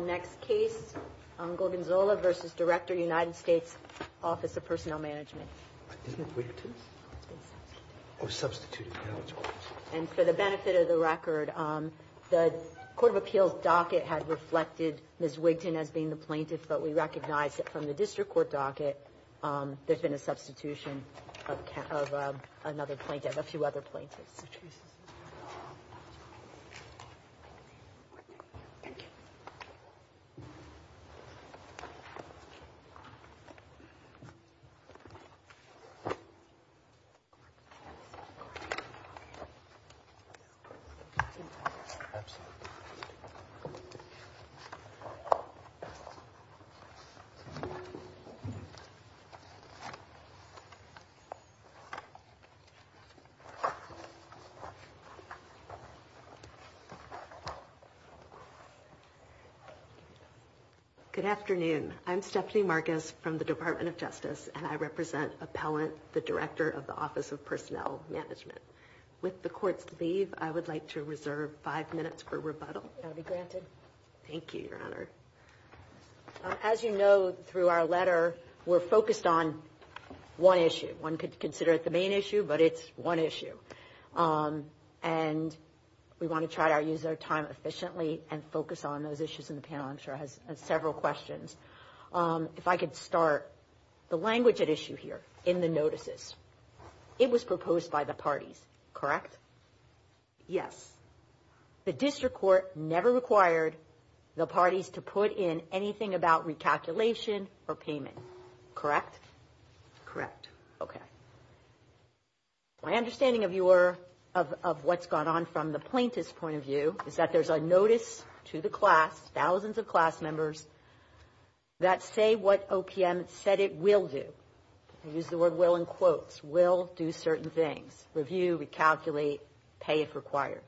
Next case, Gorgonzola v. Director United States Office of Personnel Management. And for the benefit of the record, the Court of Appeals docket had reflected Ms. Wigton as being the plaintiff, but we recognize that from the District Court docket, there's been a substitution of another plaintiff, a few other plaintiffs. Ms. Wigton. Good afternoon, I'm Stephanie Marcus from the Department of Justice and I represent Appellant, the Director of the Office of Personnel Management. With the Court's leave, I would like to reserve five minutes for rebuttal. That will be granted. Thank you, Your Honor. As you know, through our letter, we're focused on one issue. One could consider it the main issue, but it's one issue. And we want to try to use our time efficiently and focus on those issues in the panel. I'm sure it has several questions. If I could start, the language at issue here in the notices, it was proposed by the parties, correct? Yes. The District Court never required the parties to put in anything about recalculation or payment, correct? Correct. Okay. My understanding of what's gone on from the plaintiff's point of view is that there's a notice to the class, thousands of class members, that say what OPM said it will do. I use the word will in quotes. Will do certain things. Review, recalculate, pay if required.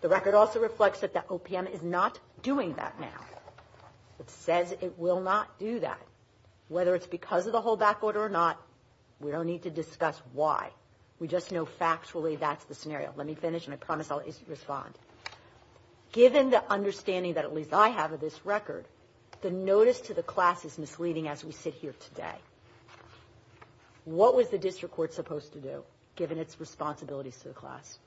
The record also reflects that the OPM is not doing that now. It says it will not do that. Whether it's because of the hold back order or not, we don't need to discuss why. We just know factually that's the scenario. Let me finish, and I promise I'll respond. Given the understanding that at least I have of this record, the notice to the class is misleading as we sit here today. What was the District Court supposed to do, given its responsibilities to the class?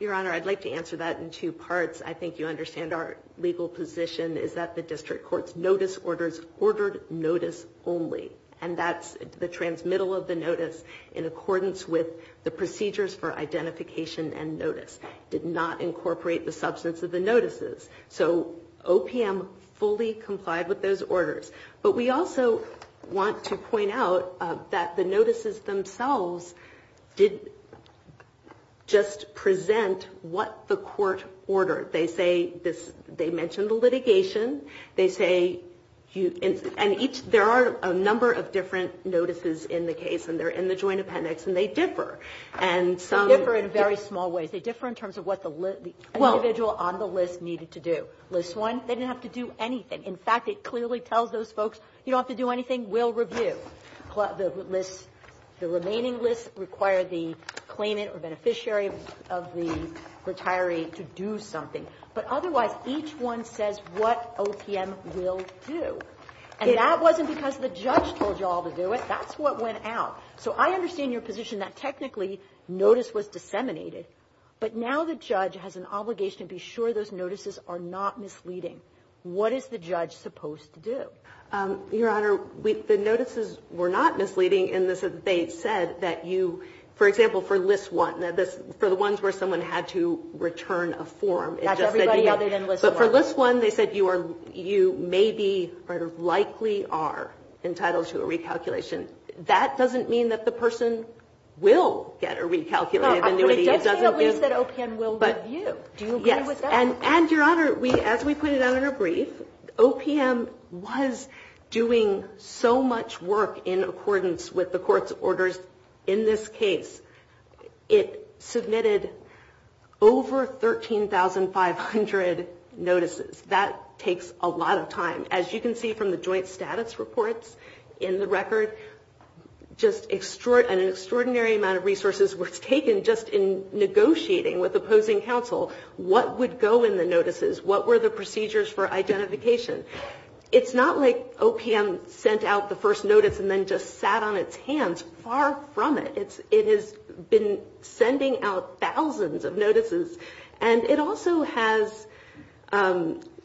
Your Honor, I'd like to answer that in two parts. I think you understand our legal position is that the District Court's notice orders ordered notice only. And that's the transmittal of the notice in accordance with the procedures for identification and notice. Did not incorporate the substance of the notices. So OPM fully complied with those orders. But we also want to point out that the notices themselves did just present what the court ordered. They say this they mentioned the litigation. They say you and each there are a number of different notices in the case, and they're in the joint appendix, and they differ. And some differ in very small ways. They differ in terms of what the individual on the list needed to do. List one, they didn't have to do anything. In fact, it clearly tells those folks, you don't have to do anything, we'll review. The remaining lists require the claimant or beneficiary of the retiree to do something. But otherwise, each one says what OPM will do. And that wasn't because the judge told you all to do it. That's what went out. So I understand your position that technically notice was disseminated. But now the judge has an obligation to be sure those notices are not misleading. What is the judge supposed to do? Your Honor, the notices were not misleading. And they said that you, for example, for list one, for the ones where someone had to return a form. That's everybody other than list one. But for list one, they said you may be or likely are entitled to a recalculation. That doesn't mean that the person will get a recalculated annuity. It doesn't mean at least that OPM will review. Do you agree with that? And, Your Honor, as we pointed out in our brief, OPM was doing so much work in accordance with the court's orders. In this case, it submitted over 13,500 notices. That takes a lot of time. As you can see from the joint status reports in the record, just an extraordinary amount of resources was taken just in negotiating with opposing counsel. What would go in the notices? What were the procedures for identification? It's not like OPM sent out the first notice and then just sat on its hands. Far from it. It has been sending out thousands of notices. And it also has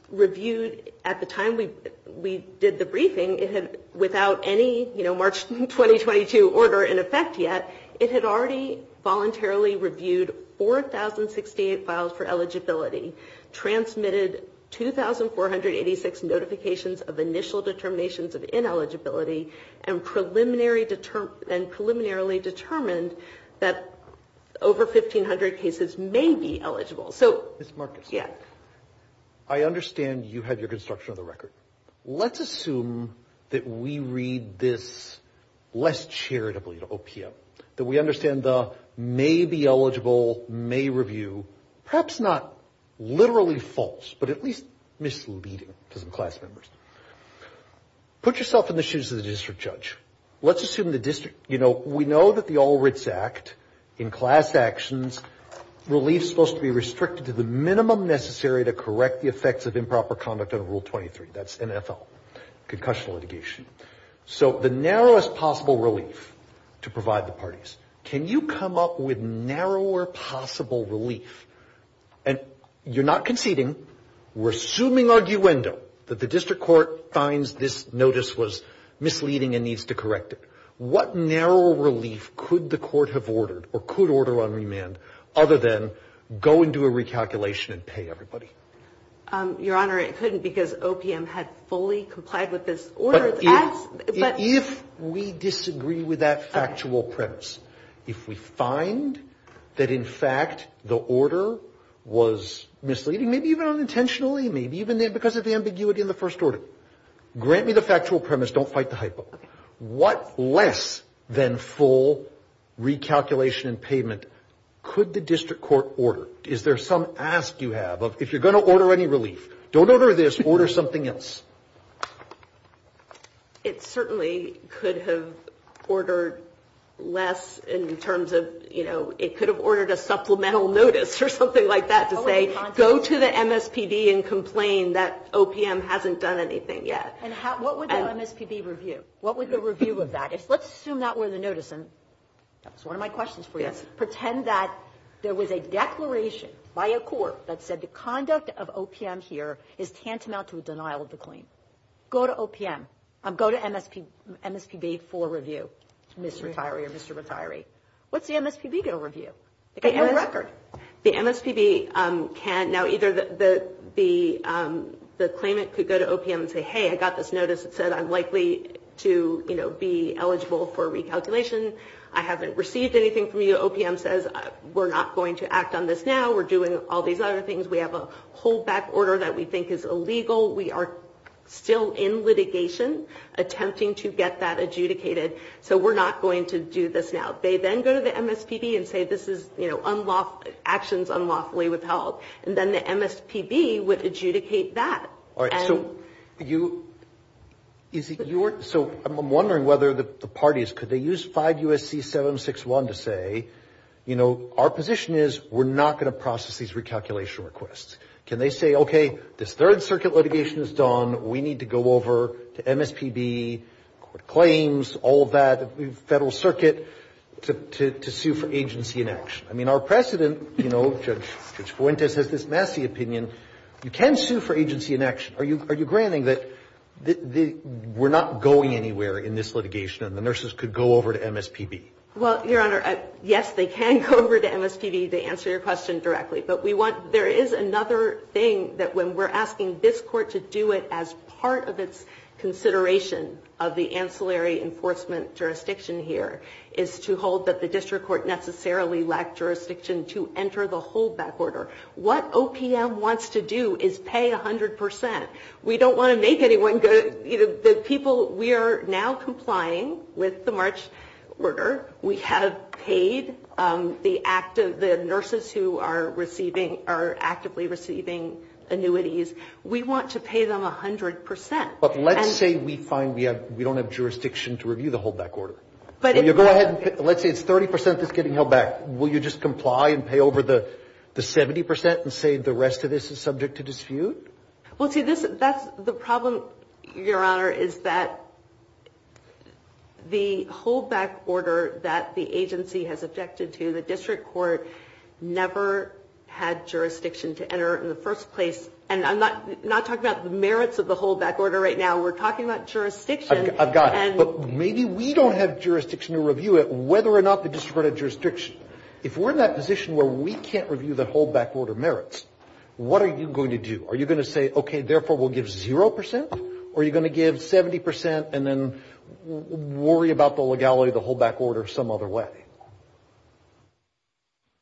reviewed, at the time we did the briefing, without any March 2022 order in effect yet, it had already voluntarily reviewed 4,068 files for eligibility, transmitted 2,486 notifications of initial determinations of ineligibility, and preliminarily determined that over 1,500 cases may be eligible. Ms. Marcus, I understand you have your construction of the record. Let's assume that we read this less charitably to OPM, that we understand the may be eligible, may review, perhaps not literally false, but at least misleading to some class members. Put yourself in the shoes of the district judge. Let's assume the district, you know, we know that the All Writs Act, in class actions, relief is supposed to be restricted to the minimum necessary to correct the effects of improper conduct under Rule 23. That's NFL, concussion litigation. So the narrowest possible relief to provide the parties. Can you come up with narrower possible relief? And you're not conceding. We're assuming arguendo that the district court finds this notice was misleading and needs to correct it. What narrow relief could the court have ordered or could order on remand other than go and do a recalculation and pay everybody? Your Honor, it couldn't because OPM had fully complied with this order. But if we disagree with that factual premise, if we find that, in fact, the order was misleading, maybe even unintentionally, maybe even because of the ambiguity in the first order, grant me the factual premise, don't fight the hypo. What less than full recalculation and payment could the district court order? Is there some ask you have of if you're going to order any relief, don't order this, order something else? It certainly could have ordered less in terms of, you know, it could have ordered a supplemental notice or something like that to say, go to the MSPB and complain that OPM hasn't done anything yet. And what would the MSPB review? What would the review of that is? Let's assume that were the notice. And that's one of my questions for you. Let's pretend that there was a declaration by a court that said the conduct of OPM here is tantamount to a denial of the claim. Go to OPM. Go to MSPB for review, Ms. Retiree or Mr. Retiree. What's the MSPB going to review? The MSPB can't. Now, either the claimant could go to OPM and say, hey, I got this notice. It said I'm likely to, you know, be eligible for recalculation. I haven't received anything from you. OPM says we're not going to act on this now. We're doing all these other things. We have a holdback order that we think is illegal. We are still in litigation attempting to get that adjudicated. So we're not going to do this now. They then go to the MSPB and say this is, you know, actions unlawfully withheld. And then the MSPB would adjudicate that. All right. So I'm wondering whether the parties, could they use 5 U.S.C. 761 to say, you know, our position is we're not going to process these recalculation requests. Can they say, okay, this Third Circuit litigation is done. We need to go over to MSPB, court claims, all that, Federal Circuit, to sue for agency inaction. I mean, our precedent, you know, Judge Fuentes has this messy opinion. You can sue for agency inaction. Are you granting that we're not going anywhere in this litigation and the nurses could go over to MSPB? Well, Your Honor, yes, they can go over to MSPB to answer your question directly. But we want to – there is another thing that when we're asking this Court to do it as part of its consideration of the ancillary enforcement jurisdiction here is to hold that the district court necessarily lacked jurisdiction to enter the holdback order. What OPM wants to do is pay 100 percent. We don't want to make anyone go – the people – we are now complying with the March order. We have paid the active – the nurses who are receiving – are actively receiving annuities. We want to pay them 100 percent. But let's say we find we have – we don't have jurisdiction to review the holdback order. But if you go ahead and – let's say it's 30 percent that's getting held back. Will you just comply and pay over the 70 percent and say the rest of this is subject to dispute? Well, see, that's the problem, Your Honor, is that the holdback order that the agency has objected to, the district court never had jurisdiction to enter in the first place. And I'm not talking about the merits of the holdback order right now. We're talking about jurisdiction. I've got it. But maybe we don't have jurisdiction to review it, whether or not the district court has jurisdiction. If we're in that position where we can't review the holdback order merits, what are you going to do? Are you going to say, okay, therefore we'll give zero percent? Or are you going to give 70 percent and then worry about the legality of the holdback order some other way?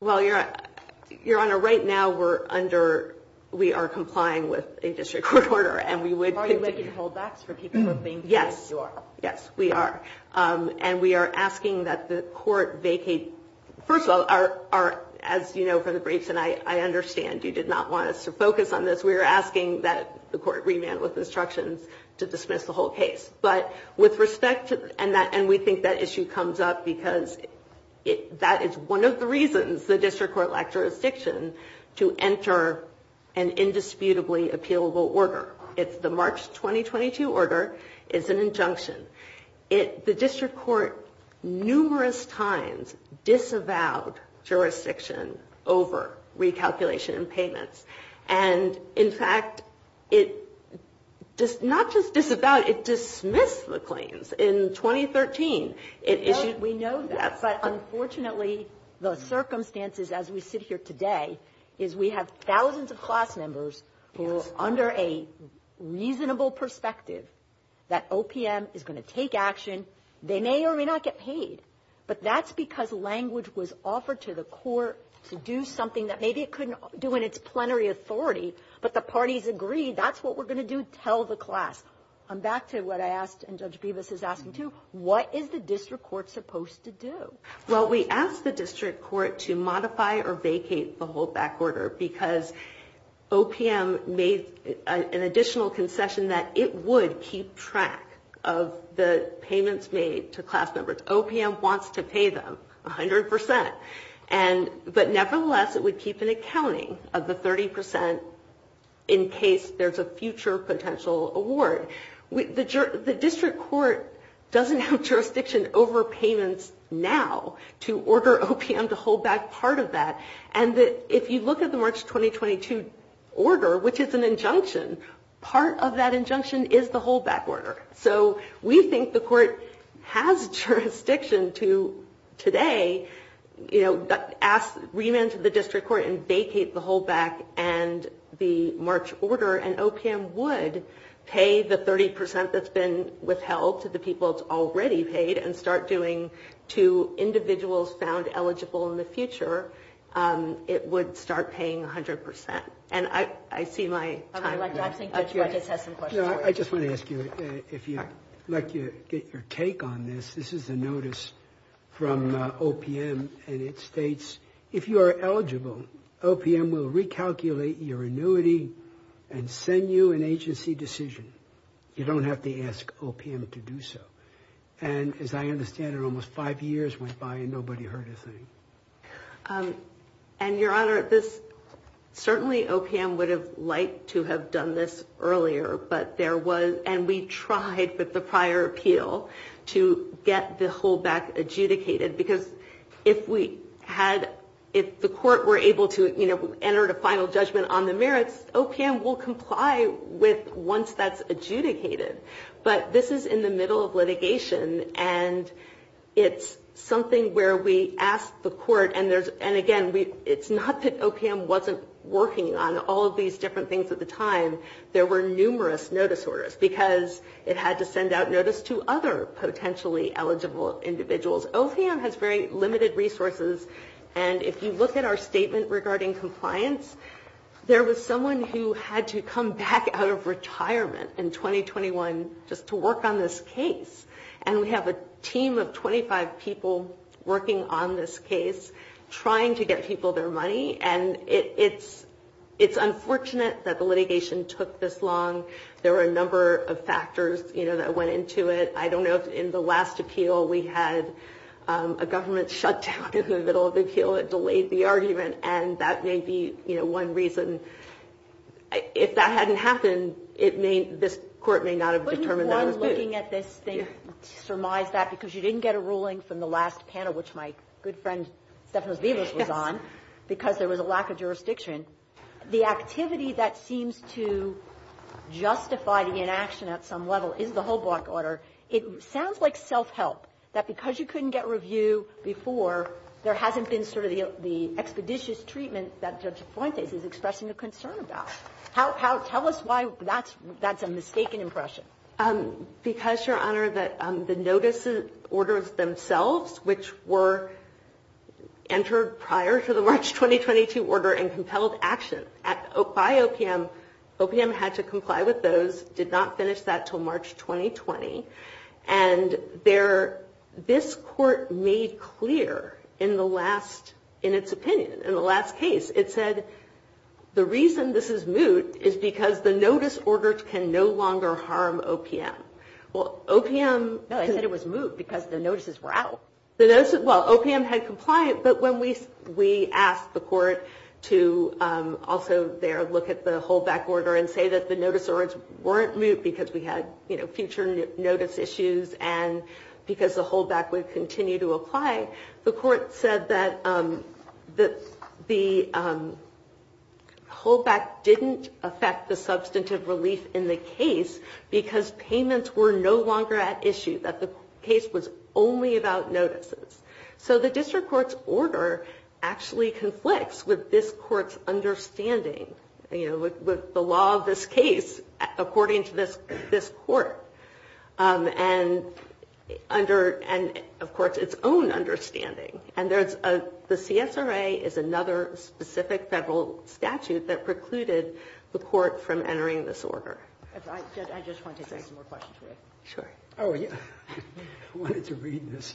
Well, Your Honor, right now we're under – we are complying with a district court order and we would – Are you making holdbacks for people who are being paid? Yes. You are. Yes, we are. And we are asking that the court vacate – first of all, our – as you know from the briefs and I understand, you did not want us to focus on this. We are asking that the court revamp with instructions to dismiss the whole case. But with respect to – and we think that issue comes up because that is one of the reasons the district court lacked jurisdiction to enter an indisputably appealable order. It's the March 2022 order. It's an injunction. It – the district court numerous times disavowed jurisdiction over recalculation and payments. And in fact, it – not just disavowed, it dismissed the claims in 2013. It issued – No, we know that. But unfortunately, the circumstances as we sit here today is we have thousands of that OPM is going to take action. They may or may not get paid. But that's because language was offered to the court to do something that maybe it couldn't do in its plenary authority. But the parties agreed that's what we're going to do. Tell the class. I'm back to what I asked and Judge Bevis is asking too. What is the district court supposed to do? Well, we asked the district court to modify or vacate the holdback order because OPM made an additional concession that it would keep track of the payments made to class members. OPM wants to pay them 100 percent. And – but nevertheless, it would keep an accounting of the 30 percent in case there's a future potential award. The district court doesn't have jurisdiction over payments now to order OPM to hold back part of that. And if you look at the March 2022 order, which is an injunction, part of that injunction is the holdback order. So we think the court has jurisdiction to today, you know, ask remand to the district court and vacate the holdback and the March order. And OPM would pay the 30 percent that's been withheld to the people it's already paid and start doing to individuals found eligible in the future, it would start paying 100 percent. And I see my time – I think Judge Bevis has some questions for you. I just want to ask you, if you'd like to get your take on this, this is a notice from OPM and it states, if you are eligible, OPM will recalculate your annuity and send you an agency decision. You don't have to ask OPM to do so. And as I understand it, almost five years went by and nobody heard a thing. And, Your Honor, this – certainly OPM would have liked to have done this earlier, but there was – and we tried with the prior appeal to get the holdback adjudicated because if we had – if the court were able to, you know, enter a final judgment on the merits, OPM will comply with – once that's adjudicated. But this is in the middle of litigation and it's something where we asked the court and there's – and again, it's not that OPM wasn't working on all of these different things at the time. There were numerous notice orders because it had to send out notice to other potentially eligible individuals. OPM has very limited resources and if you look at our statement regarding compliance, there was someone who had to come back out of retirement in 2021 just to work on this case. And we have a team of 25 people working on this case trying to get people their money and it's unfortunate that the litigation took this long. There were a number of factors, you know, that went into it. I don't know if in the last appeal we had a government shutdown in the middle of the appeal. It delayed the argument and that may be, you know, one reason. If that hadn't happened, it may – this court may not have determined that it was good. Wouldn't one looking at this thing surmise that because you didn't get a ruling from the last panel, which my good friend Stephanos Vivas was on, because there was a lack of jurisdiction. The activity that seems to justify the inaction at some level is the Hobock order. It sounds like self-help that because you couldn't get review before, there hasn't been sort of the expeditious treatment that Judge Fuentes is expressing a concern about. How – tell us why that's a mistaken impression. Because, Your Honor, the notice orders themselves, which were entered prior to the March 2022 order and compelled action by OPM, OPM had to comply with those, did not finish that until March 2020. And there – this court made clear in the last – in its opinion, in the last case, it said the reason this is moot is because the notice order can no longer harm OPM. Well, OPM – No, I said it was moot because the notices were out. The notices – well, OPM had complied, but when we asked the court to also there look at the Hobock order and say that the notice orders weren't moot because we had, you know, future notice issues and because the Hobock would continue to apply, the court said that the Hobock didn't affect the substantive relief in the case because payments were no longer at issue, that the case was only about notices. So the district court's order actually conflicts with this court's understanding, you know, with the law of this case according to this court. And under – and, of course, its own understanding. And there's a – the CSRA is another specific federal statute that precluded the court from entering this order. I just wanted to say some more questions. Sure. I wanted to read this.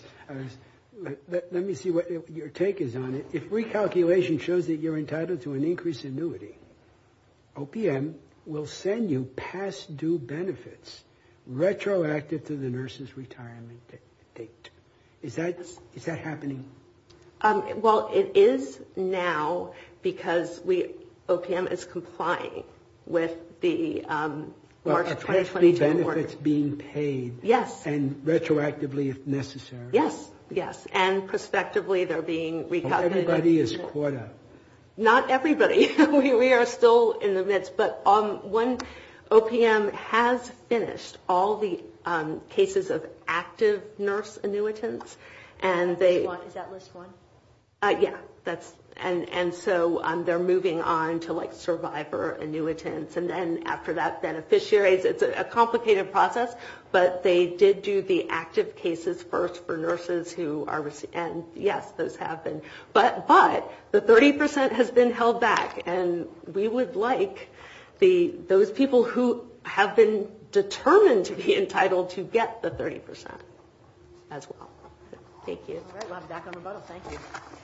Let me see what your take is on it. If recalculation shows that you're entitled to an increased annuity, OPM will send you past due benefits retroactive to the nurse's retirement date. Is that happening? Well, it is now because we – OPM is complying with the March 2022 order. So benefits being paid. Yes. And retroactively if necessary. Yes, yes. And prospectively they're being recovered. Not everybody is caught up. Not everybody. We are still in the midst. But when OPM has finished all the cases of active nurse annuitants and they – Is that list one? Yeah. That's – and so they're moving on to like survivor annuitants. And then after that, beneficiaries. It's a complicated process. But they did do the active cases first for nurses who are – and yes, those have been. But the 30 percent has been held back. And we would like those people who have been determined to be entitled to get the 30 percent as well. Thank you. All right. We'll have you back on rebuttal. Thank you. Thank you.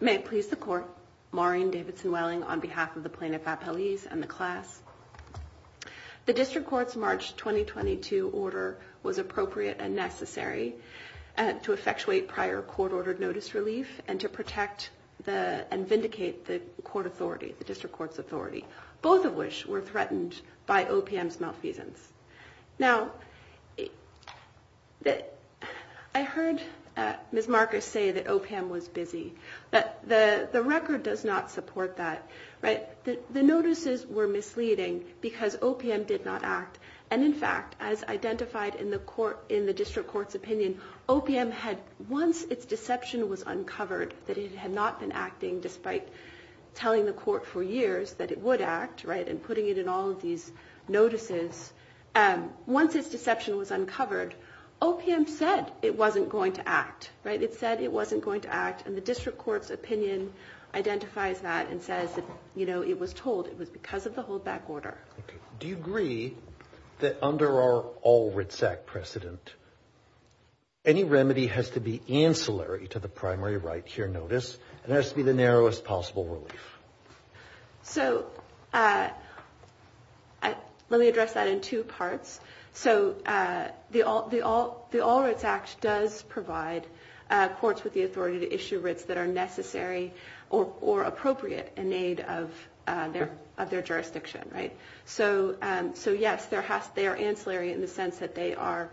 May it please the Court. Maureen Davidson Welling on behalf of the plaintiff at police and the class. The district court's March 2022 order was appropriate and necessary to effectuate prior court-ordered notice relief and to protect the – and vindicate the court authority, the district court's authority, both of which were threatened by OPM's malfeasance. Now, I heard Ms. Marcus say that OPM was busy. The record does not support that. The notices were misleading because OPM did not act. And in fact, as identified in the district court's opinion, OPM had – once its deception was uncovered, that it had not been acting despite telling the court for years that it would act and putting it in all of these notices, once its deception was uncovered, OPM said it wasn't going to act. It said it wasn't going to act. And the district court's opinion identifies that and says that, you know, it was told it was because of the holdback order. Okay. Do you agree that under our All Rights Act precedent, any remedy has to be ancillary to the primary right here notice and has to be the narrowest possible relief? So let me address that in two parts. So the All Rights Act does provide courts with the authority to issue writs that are necessary or appropriate in aid of their jurisdiction, right? So, yes, they are ancillary in the sense that they are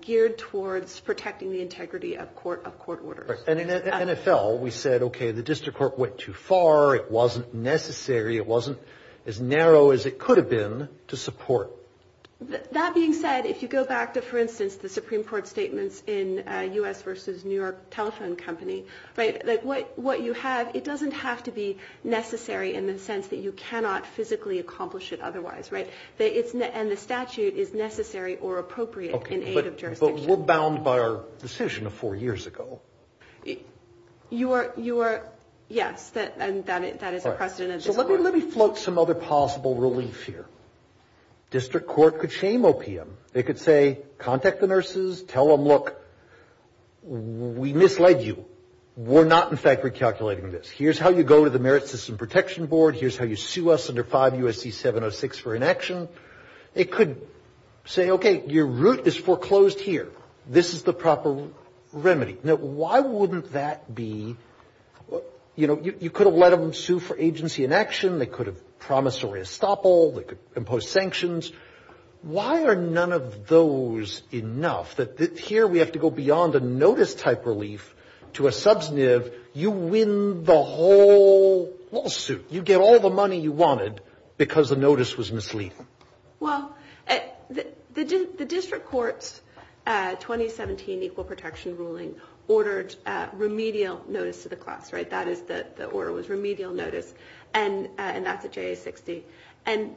geared towards protecting the integrity of court orders. And in the NFL, we said, okay, the district court went too far, it wasn't necessary, it wasn't as narrow as it could have been to support. That being said, if you go back to, for instance, the Supreme Court statements in U.S. versus New York Telephone Company, what you have, it doesn't have to be necessary in the sense that you cannot physically accomplish it otherwise, right? And the statute is necessary or appropriate in aid of jurisdiction. But we're bound by our decision of four years ago. You are, yes, that is a precedent. So let me float some other possible relief here. District court could shame OPM. They could say, contact the nurses, tell them, look, we misled you. We're not, in fact, recalculating this. Here's how you go to the Merit System Protection Board. Here's how you sue us under 5 U.S.C. 706 for inaction. It could say, okay, your route is foreclosed here. This is the proper remedy. Now, why wouldn't that be, you know, you could have let them sue for agency inaction. They could have promissory estoppel. They could impose sanctions. Why are none of those enough that here we have to go beyond a notice-type relief to a substantive. You win the whole lawsuit. You get all the money you wanted because the notice was misleading. Well, the district court's 2017 Equal Protection ruling ordered remedial notice to the class, right? That is the order was remedial notice, and that's at JA 60. And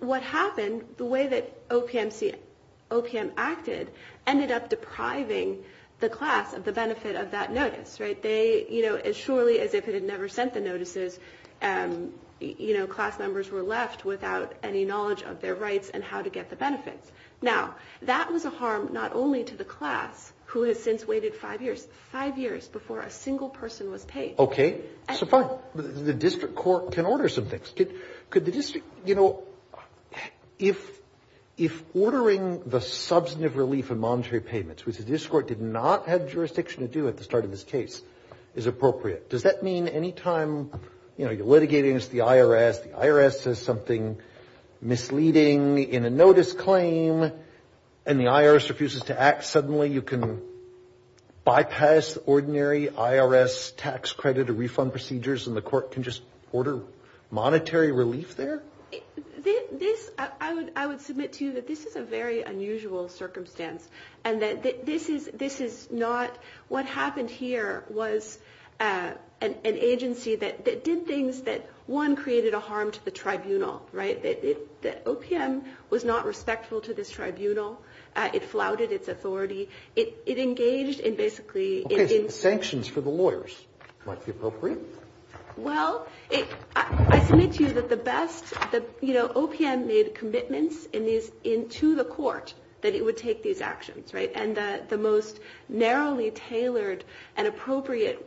what happened, the way that OPM acted ended up depriving the class of the benefit of that notice, right? They, you know, as surely as if it had never sent the notices, you know, class members were left without any knowledge of their rights and how to get the benefits. Now, that was a harm not only to the class, who has since waited five years, five years before a single person was paid. Okay, so fine. The district court can order some things. Could the district, you know, if ordering the substantive relief and monetary payments, which the district court did not have jurisdiction to do at the start of this case, is appropriate, does that mean any time, you know, you're litigating against the IRS, the IRS says something misleading in a notice claim and the IRS refuses to act, suddenly you can bypass ordinary IRS tax credit or refund procedures and the court can just order monetary relief there? This, I would submit to you that this is a very unusual circumstance and that this is not what happened here was an agency that did things that, one, created a harm to the tribunal, right? The OPM was not respectful to this tribunal. It flouted its authority. It engaged in basically in sanctions for the lawyers. Might be appropriate. Well, I submit to you that the best, you know, OPM made commitments to the court that it would take these actions, right? And the most narrowly tailored and appropriate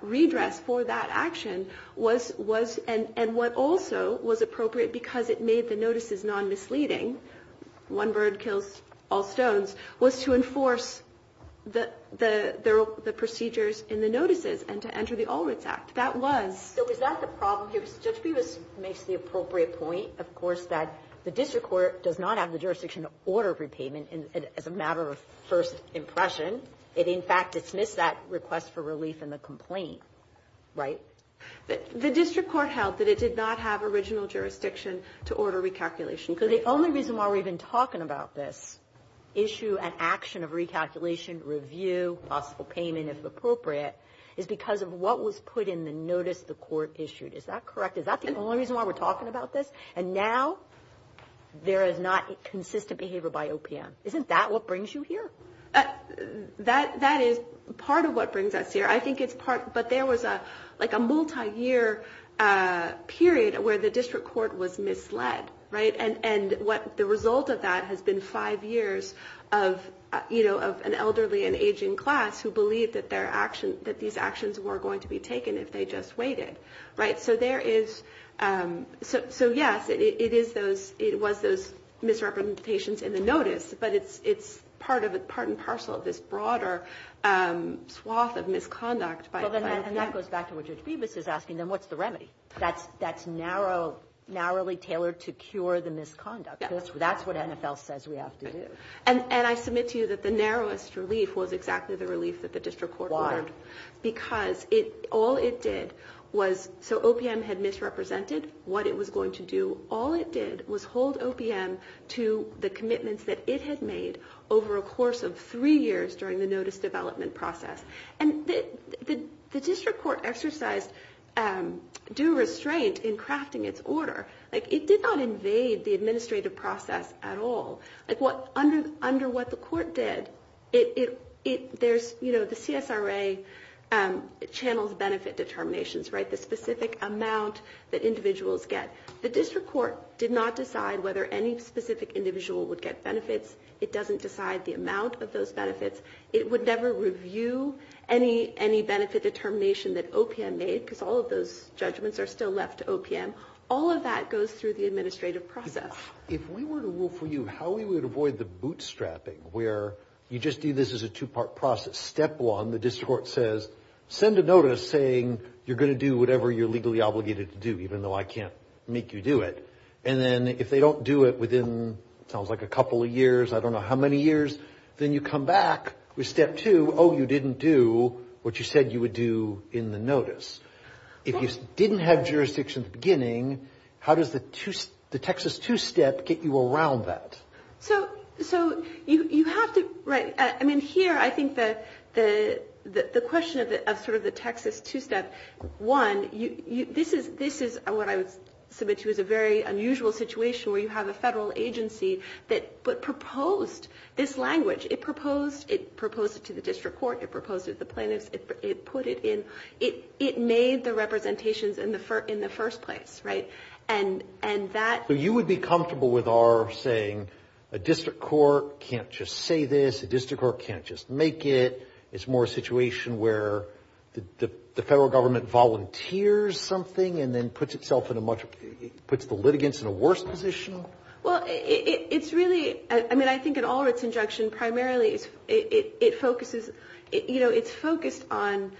redress for that action was and what also was appropriate because it made the notices non-misleading, one bird kills all stones, was to enforce the procedures in the notices and to enter the All Rights Act. That was. So is that the problem here? Judge Peebles makes the appropriate point, of course, that the district court does not have the jurisdiction to order repayment as a matter of first impression. It, in fact, dismissed that request for relief in the complaint, right? The district court held that it did not have original jurisdiction to order recalculation. So the only reason why we've been talking about this issue and action of recalculation, review, possible payment, if appropriate, is because of what was put in the notice the court issued. Is that correct? Is that the only reason why we're talking about this? And now there is not consistent behavior by OPM. Isn't that what brings you here? That is part of what brings us here. But there was a multi-year period where the district court was misled. And the result of that has been five years of an elderly and aging class who believed that these actions were going to be taken if they just waited. So, yes, it was those misrepresentations in the notice, but it's part and parcel of this broader swath of misconduct by OPM. And that goes back to what Judge Bevis is asking, then what's the remedy? That's narrowly tailored to cure the misconduct. That's what NFL says we have to do. And I submit to you that the narrowest relief was exactly the relief that the district court ordered. Why? Because all it did was, so OPM had misrepresented what it was going to do. All it did was hold OPM to the commitments that it had made over a course of three years during the notice development process. And the district court exercised due restraint in crafting its order. Like, it did not invade the administrative process at all. Like, under what the court did, there's, you know, the CSRA channels benefit determinations, right, the specific amount that individuals get. The district court did not decide whether any specific individual would get benefits. It doesn't decide the amount of those benefits. It would never review any benefit determination that OPM made because all of those judgments are still left to OPM. All of that goes through the administrative process. If we were to rule for you how we would avoid the bootstrapping where you just do this as a two-part process. Step one, the district court says, send a notice saying you're going to do whatever you're legally obligated to do, even though I can't make you do it. And then if they don't do it within, it sounds like a couple of years, I don't know how many years, then you come back with step two, oh, you didn't do what you said you would do in the notice. If you didn't have jurisdiction at the beginning, how does the Texas two-step get you around that? So you have to, right, I mean, here I think the question of sort of the Texas two-step, one, this is what I would submit to as a very unusual situation where you have a federal agency that proposed this language. It proposed it to the district court. It proposed it to the plaintiffs. It put it in. It made the representations in the first place, right? And that. So you would be comfortable with our saying a district court can't just say this, a district court can't just make it. It's more a situation where the federal government volunteers something and then puts itself in a much, puts the litigants in a worse position? Well, it's really, I mean, I think in all of its injunction, primarily it focuses, you know, it's focused on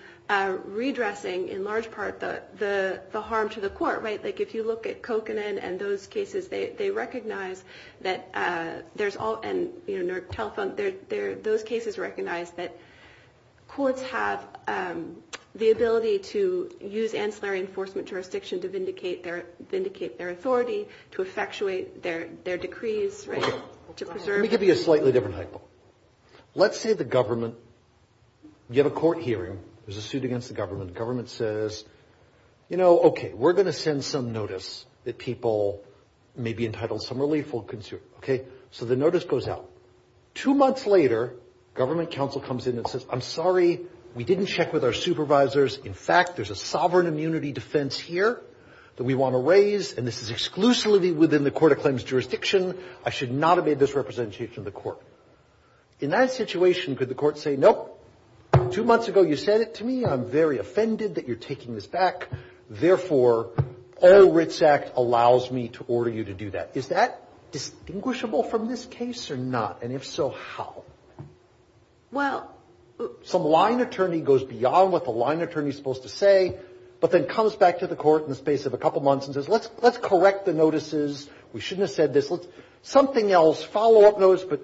redressing in large part the harm to the court, right? Like if you look at Kokanen and those cases, they recognize that there's all, and, you know, courts have the ability to use ancillary enforcement jurisdiction to vindicate their authority, to effectuate their decrees, right? To preserve. Let me give you a slightly different hypo. Let's say the government, you have a court hearing. There's a suit against the government. The government says, you know, okay, we're going to send some notice that people may be entitled to some relief. Okay? So the notice goes out. Two months later, government counsel comes in and says, I'm sorry, we didn't check with our supervisors. In fact, there's a sovereign immunity defense here that we want to raise, and this is exclusively within the court of claims jurisdiction. I should not have made this representation to the court. In that situation, could the court say, nope, two months ago you said it to me. I'm very offended that you're taking this back. Therefore, all RITS Act allows me to order you to do that. Is that distinguishable from this case or not? And if so, how? Well. Some line attorney goes beyond what the line attorney is supposed to say, but then comes back to the court in the space of a couple months and says, let's correct the notices. We shouldn't have said this. Something else, follow-up notice, but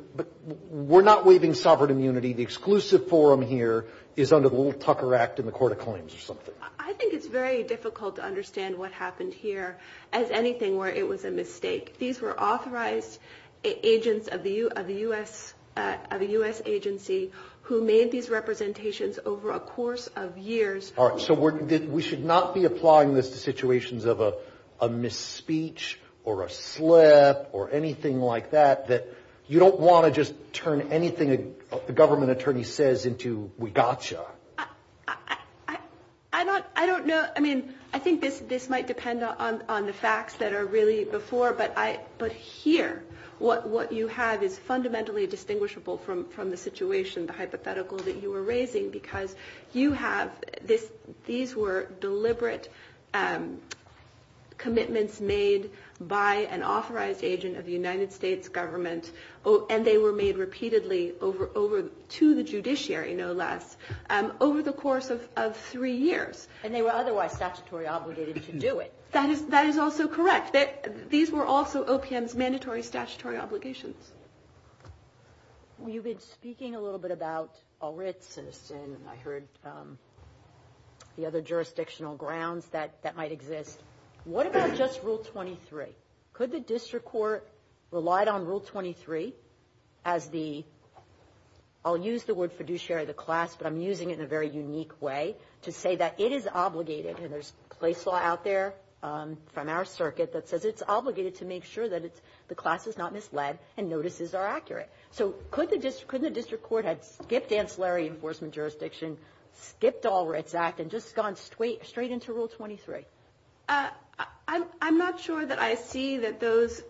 we're not waiving sovereign immunity. The exclusive forum here is under the little Tucker Act in the court of claims or something. I think it's very difficult to understand what happened here as anything where it was a mistake. These were authorized agents of the U.S. agency who made these representations over a course of years. All right. So we should not be applying this to situations of a misspeech or a slip or anything like that, that you don't want to just turn anything a government attorney says into we got you. I don't know. I mean, I think this might depend on the facts that are really before, but here what you have is fundamentally distinguishable from the situation, the hypothetical that you were raising, because you have this. These were deliberate commitments made by an authorized agent of the United States government, and they were made repeatedly over to the judiciary, no less, over the course of three years. And they were otherwise statutory obligated to do it. That is also correct. These were also OPM's mandatory statutory obligations. Well, you've been speaking a little bit about all writs and I heard the other jurisdictional grounds that might exist. What about just Rule 23? Could the district court relied on Rule 23 as the, I'll use the word fiduciary of the class, but I'm using it in a very unique way to say that it is obligated, and there's place law out there from our circuit that says it's obligated to make sure that the class is not misled and notices are accurate. So could the district court have skipped ancillary enforcement jurisdiction, skipped all writs act, and just gone straight into Rule 23? I'm not sure that I see that those,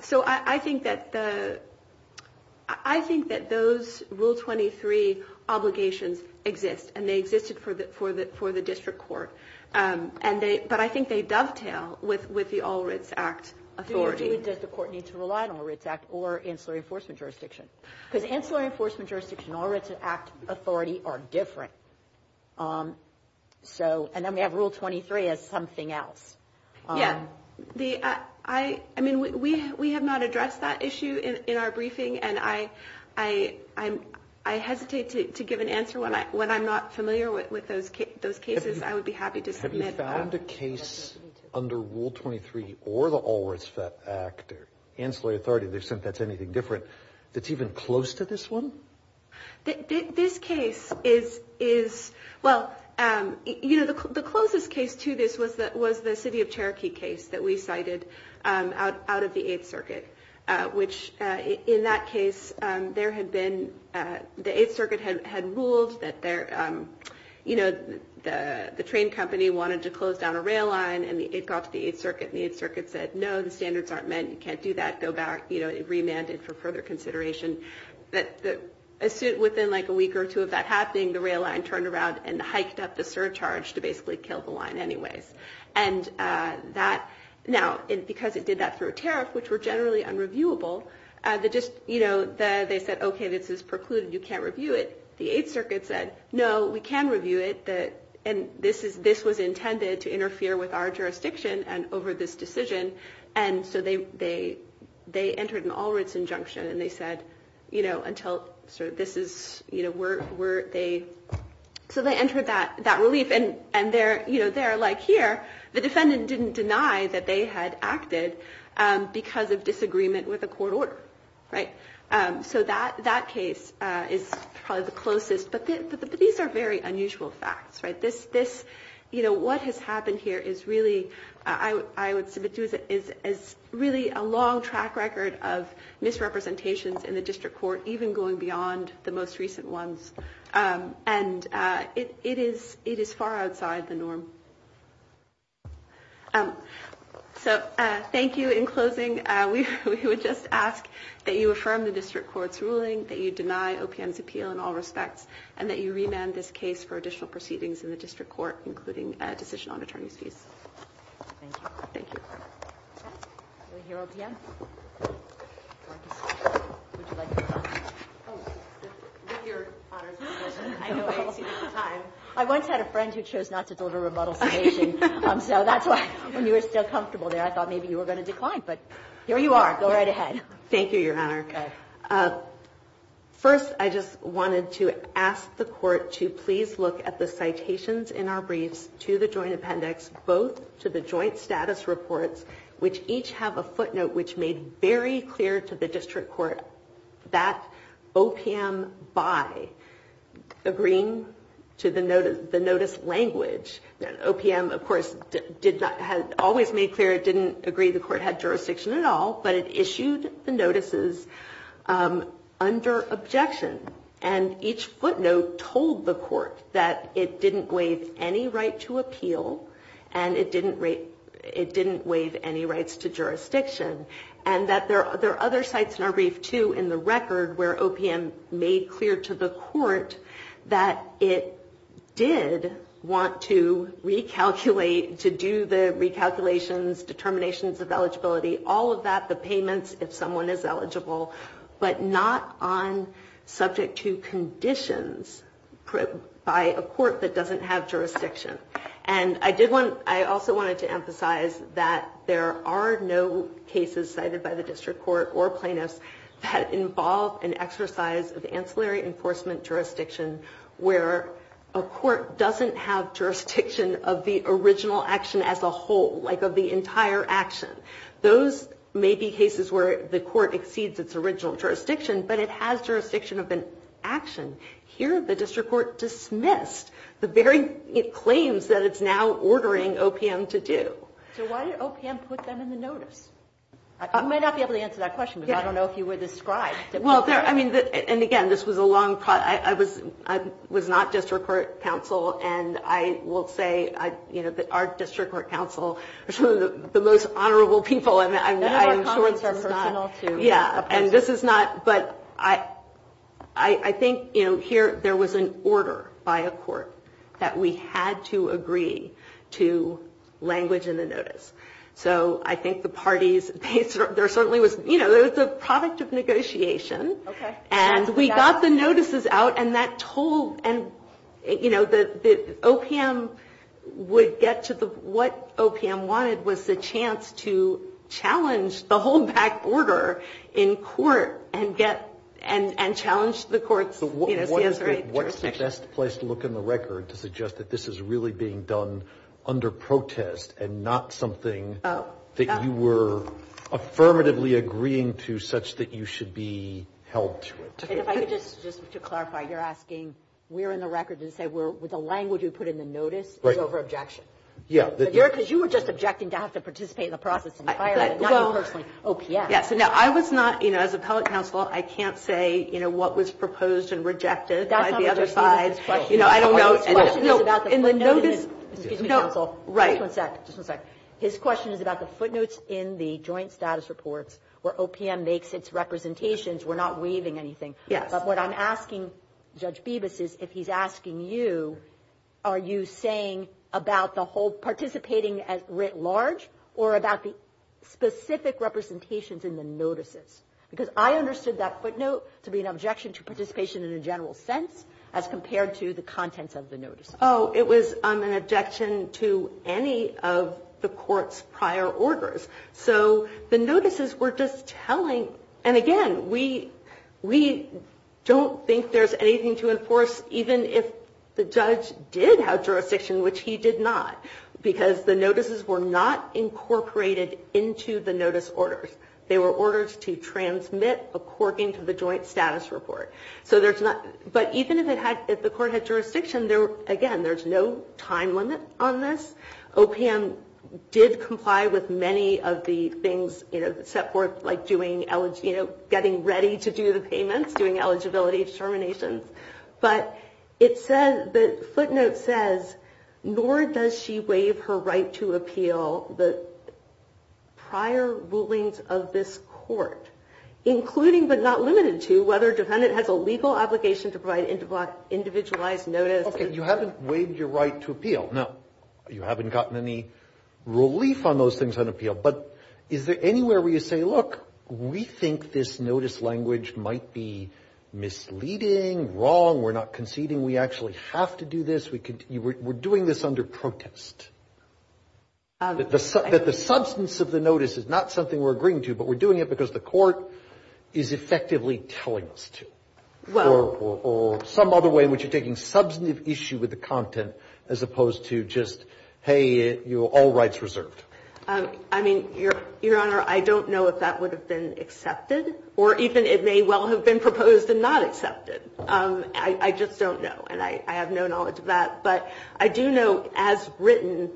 so I think that the, I think that those Rule 23 obligations exist, and they existed for the district court. But I think they dovetail with the all writs act authority. Does the court need to rely on all writs act or ancillary enforcement jurisdiction? Because ancillary enforcement jurisdiction and all writs act authority are different. So, and then we have Rule 23 as something else. Yeah. I mean, we have not addressed that issue in our briefing, and I hesitate to give an answer when I'm not familiar with those cases. I would be happy to submit that. Have you found a case under Rule 23 or the all writs act or ancillary authority, they've said that's anything different, that's even close to this one? This case is, well, you know, the closest case to this was the City of Cherokee case that we cited out of the Eighth Circuit, which in that case, there had been, the Eighth Circuit had ruled that their, you know, the train company wanted to close down a rail line, and it got to the Eighth Circuit, and the Eighth Circuit said, no, the standards aren't met, you can't do that, go back, you know, it remanded for further consideration. Within like a week or two of that happening, the rail line turned around and hiked up the surcharge to basically kill the line anyways. And that, now, because it did that through a tariff, which were generally unreviewable, they just, you know, they said, okay, this is precluded, you can't review it. The Eighth Circuit said, no, we can review it, and this was intended to interfere with our jurisdiction and over this decision, and so they entered an all writs injunction, and they said, you know, until sort of this is, you know, were they, so they entered that relief, and they're, you know, they're like, here, the defendant didn't deny that they had acted because of disagreement with the court order, right? So that case is probably the closest, but these are very unusual facts, right? This, you know, what has happened here is really, I would submit to, is really a long track record of misrepresentations in the district court, even going beyond the most recent ones, and it is far outside the norm. So thank you. In closing, we would just ask that you affirm the district court's ruling, that you deny OPM's appeal in all respects, and that you remand this case for additional proceedings in the district court, including a decision on attorney's fees. Thank you. Thank you. Okay. Do we hear OPM? Would you like to respond? Oh, with your Honor's permission. I know I exceeded the time. I once had a friend who chose not to deliver a remodeled summation, so that's why when you were still comfortable there, I thought maybe you were going to decline, but here you are. Go right ahead. Thank you, Your Honor. Okay. First, I just wanted to ask the Court to please look at the citations in our briefs to the joint appendix, both to the joint status reports, which each have a footnote which made very clear to the district court that OPM by agreeing to the notice language. OPM, of course, always made clear it didn't agree the court had jurisdiction at all, but it issued the notices under objection. And each footnote told the court that it didn't waive any right to appeal and it didn't waive any rights to jurisdiction. And that there are other sites in our brief, too, in the record where OPM made clear to the court that it did want to recalculate, to do the recalculations, determinations of eligibility, all of that, the payments if someone is eligible, but not on subject to conditions by a court that doesn't have jurisdiction. And I also wanted to emphasize that there are no cases cited by the district court or plaintiffs that involve an exercise of ancillary enforcement jurisdiction where a court doesn't have jurisdiction of the original action as a whole, like of the entire action. Those may be cases where the court exceeds its original jurisdiction, but it has jurisdiction of an action. Here, the district court dismissed the very claims that it's now ordering OPM to do. So why did OPM put them in the notice? You may not be able to answer that question because I don't know if you were described. Well, I mean, and again, this was a long process. I was not district court counsel, and I will say, you know, our district court counsel is one of the most honorable people, and I'm sure this is not. Yeah, and this is not, but I think, you know, here there was an order by a court that we had to agree to language in the notice. So I think the parties, there certainly was, you know, there was a product of negotiation. Okay. And we got the notices out, and that told, and, you know, the OPM would get to the, what OPM wanted was the chance to challenge the whole back order in court and get, and challenge the court's, you know, CSRA jurisdiction. What is the best place to look in the record to suggest that this is really being done under protest and not something that you were affirmatively agreeing to such that you should be held to it? And if I could just, just to clarify, you're asking, we're in the record to say we're, with the language we put in the notice is over objection. Right. Yeah. Because you were just objecting to have to participate in the process entirely, not you personally. OPM. Yeah. So now I was not, you know, as appellate counsel, I can't say, you know, what was proposed and rejected by the other side. That's not what you're saying. You know, I don't know. His question is about the footnotes in the joint status reports where OPM makes its representations. We're not waiving anything. Yes. But what I'm asking Judge Bibas is if he's asking you, are you saying about the whole participating writ large or about the specific representations in the notices? Because I understood that footnote to be an objection to participation in a general sense as compared to the contents of the notice. Oh, it was an objection to any of the court's prior orders. So the notices were just telling, and again, we don't think there's anything to enforce, even if the judge did have jurisdiction, which he did not, because the notices were not incorporated into the notice orders. They were orders to transmit according to the joint status report. But even if the court had jurisdiction, again, there's no time limit on this. OPM did comply with many of the things set forth, like getting ready to do the payments, doing eligibility determinations. But the footnote says, nor does she waive her right to appeal the prior rulings of this court, including but not limited to whether a defendant has a legal obligation to provide individualized notice. Okay, you haven't waived your right to appeal. Now, you haven't gotten any relief on those things on appeal. But is there anywhere where you say, look, we think this notice language might be misleading, wrong, we're not conceding, we actually have to do this, we're doing this under protest, that the substance of the notice is not something we're agreeing to, but we're doing it because the court is effectively telling us to? Or some other way in which you're taking substantive issue with the content as opposed to just, hey, you're all rights reserved. I mean, Your Honor, I don't know if that would have been accepted, or even it may well have been proposed and not accepted. I just don't know. And I have no knowledge of that. But I do know as written,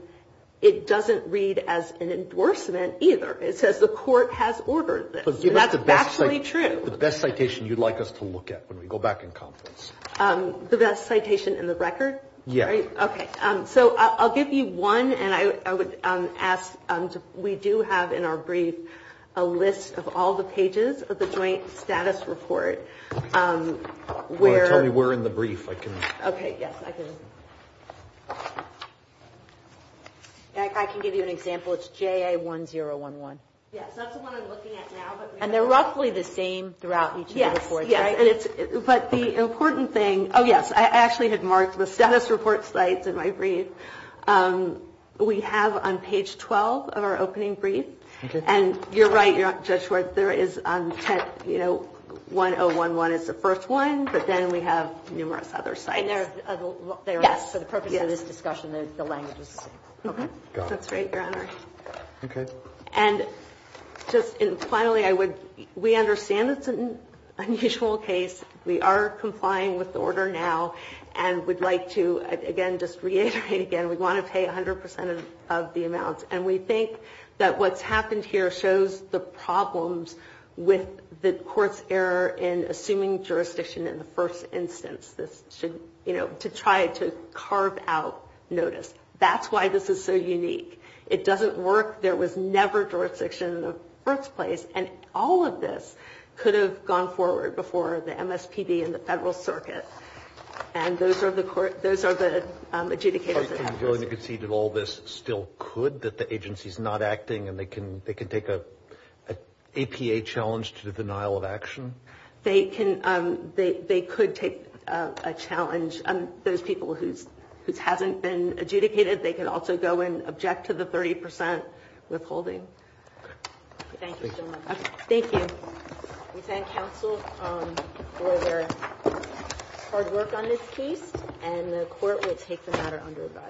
it doesn't read as an endorsement either. It says the court has ordered this. And that's actually true. The best citation you'd like us to look at when we go back in conference? The best citation in the record? Yes. Okay. So I'll give you one, and I would ask, we do have in our brief a list of all the pages of the Joint Status Report where we're in the brief. Okay. Yes, I can. I can give you an example. It's JA1011. Yes, that's the one I'm looking at now. And they're roughly the same throughout each of the reports, right? Yes, yes. But the important thing, oh, yes, I actually had marked the status report sites in my brief. We have on page 12 of our opening brief, and you're right, Judge Schwartz, there is 1011 is the first one, but then we have numerous other sites. Yes. For the purpose of this discussion, the language is the same. Okay. Got it. That's great, Your Honor. Okay. And just finally, we understand it's an unusual case. We are complying with the order now and would like to, again, just reiterate again, we want to pay 100 percent of the amounts. And we think that what's happened here shows the problems with the court's error in assuming jurisdiction in the first instance. This should, you know, to try to carve out notice. That's why this is so unique. It doesn't work. There was never jurisdiction in the first place. And all of this could have gone forward before the MSPB and the Federal Circuit. And those are the adjudicators. Are you willing to concede that all this still could, that the agency is not acting and they can take an APA challenge to the denial of action? They could take a challenge. Those people whose hasn't been adjudicated, they could also go and object to the 30 percent withholding. Thank you, Your Honor. Thank you. We thank counsel for their hard work on this case. And the court will take the matter under review.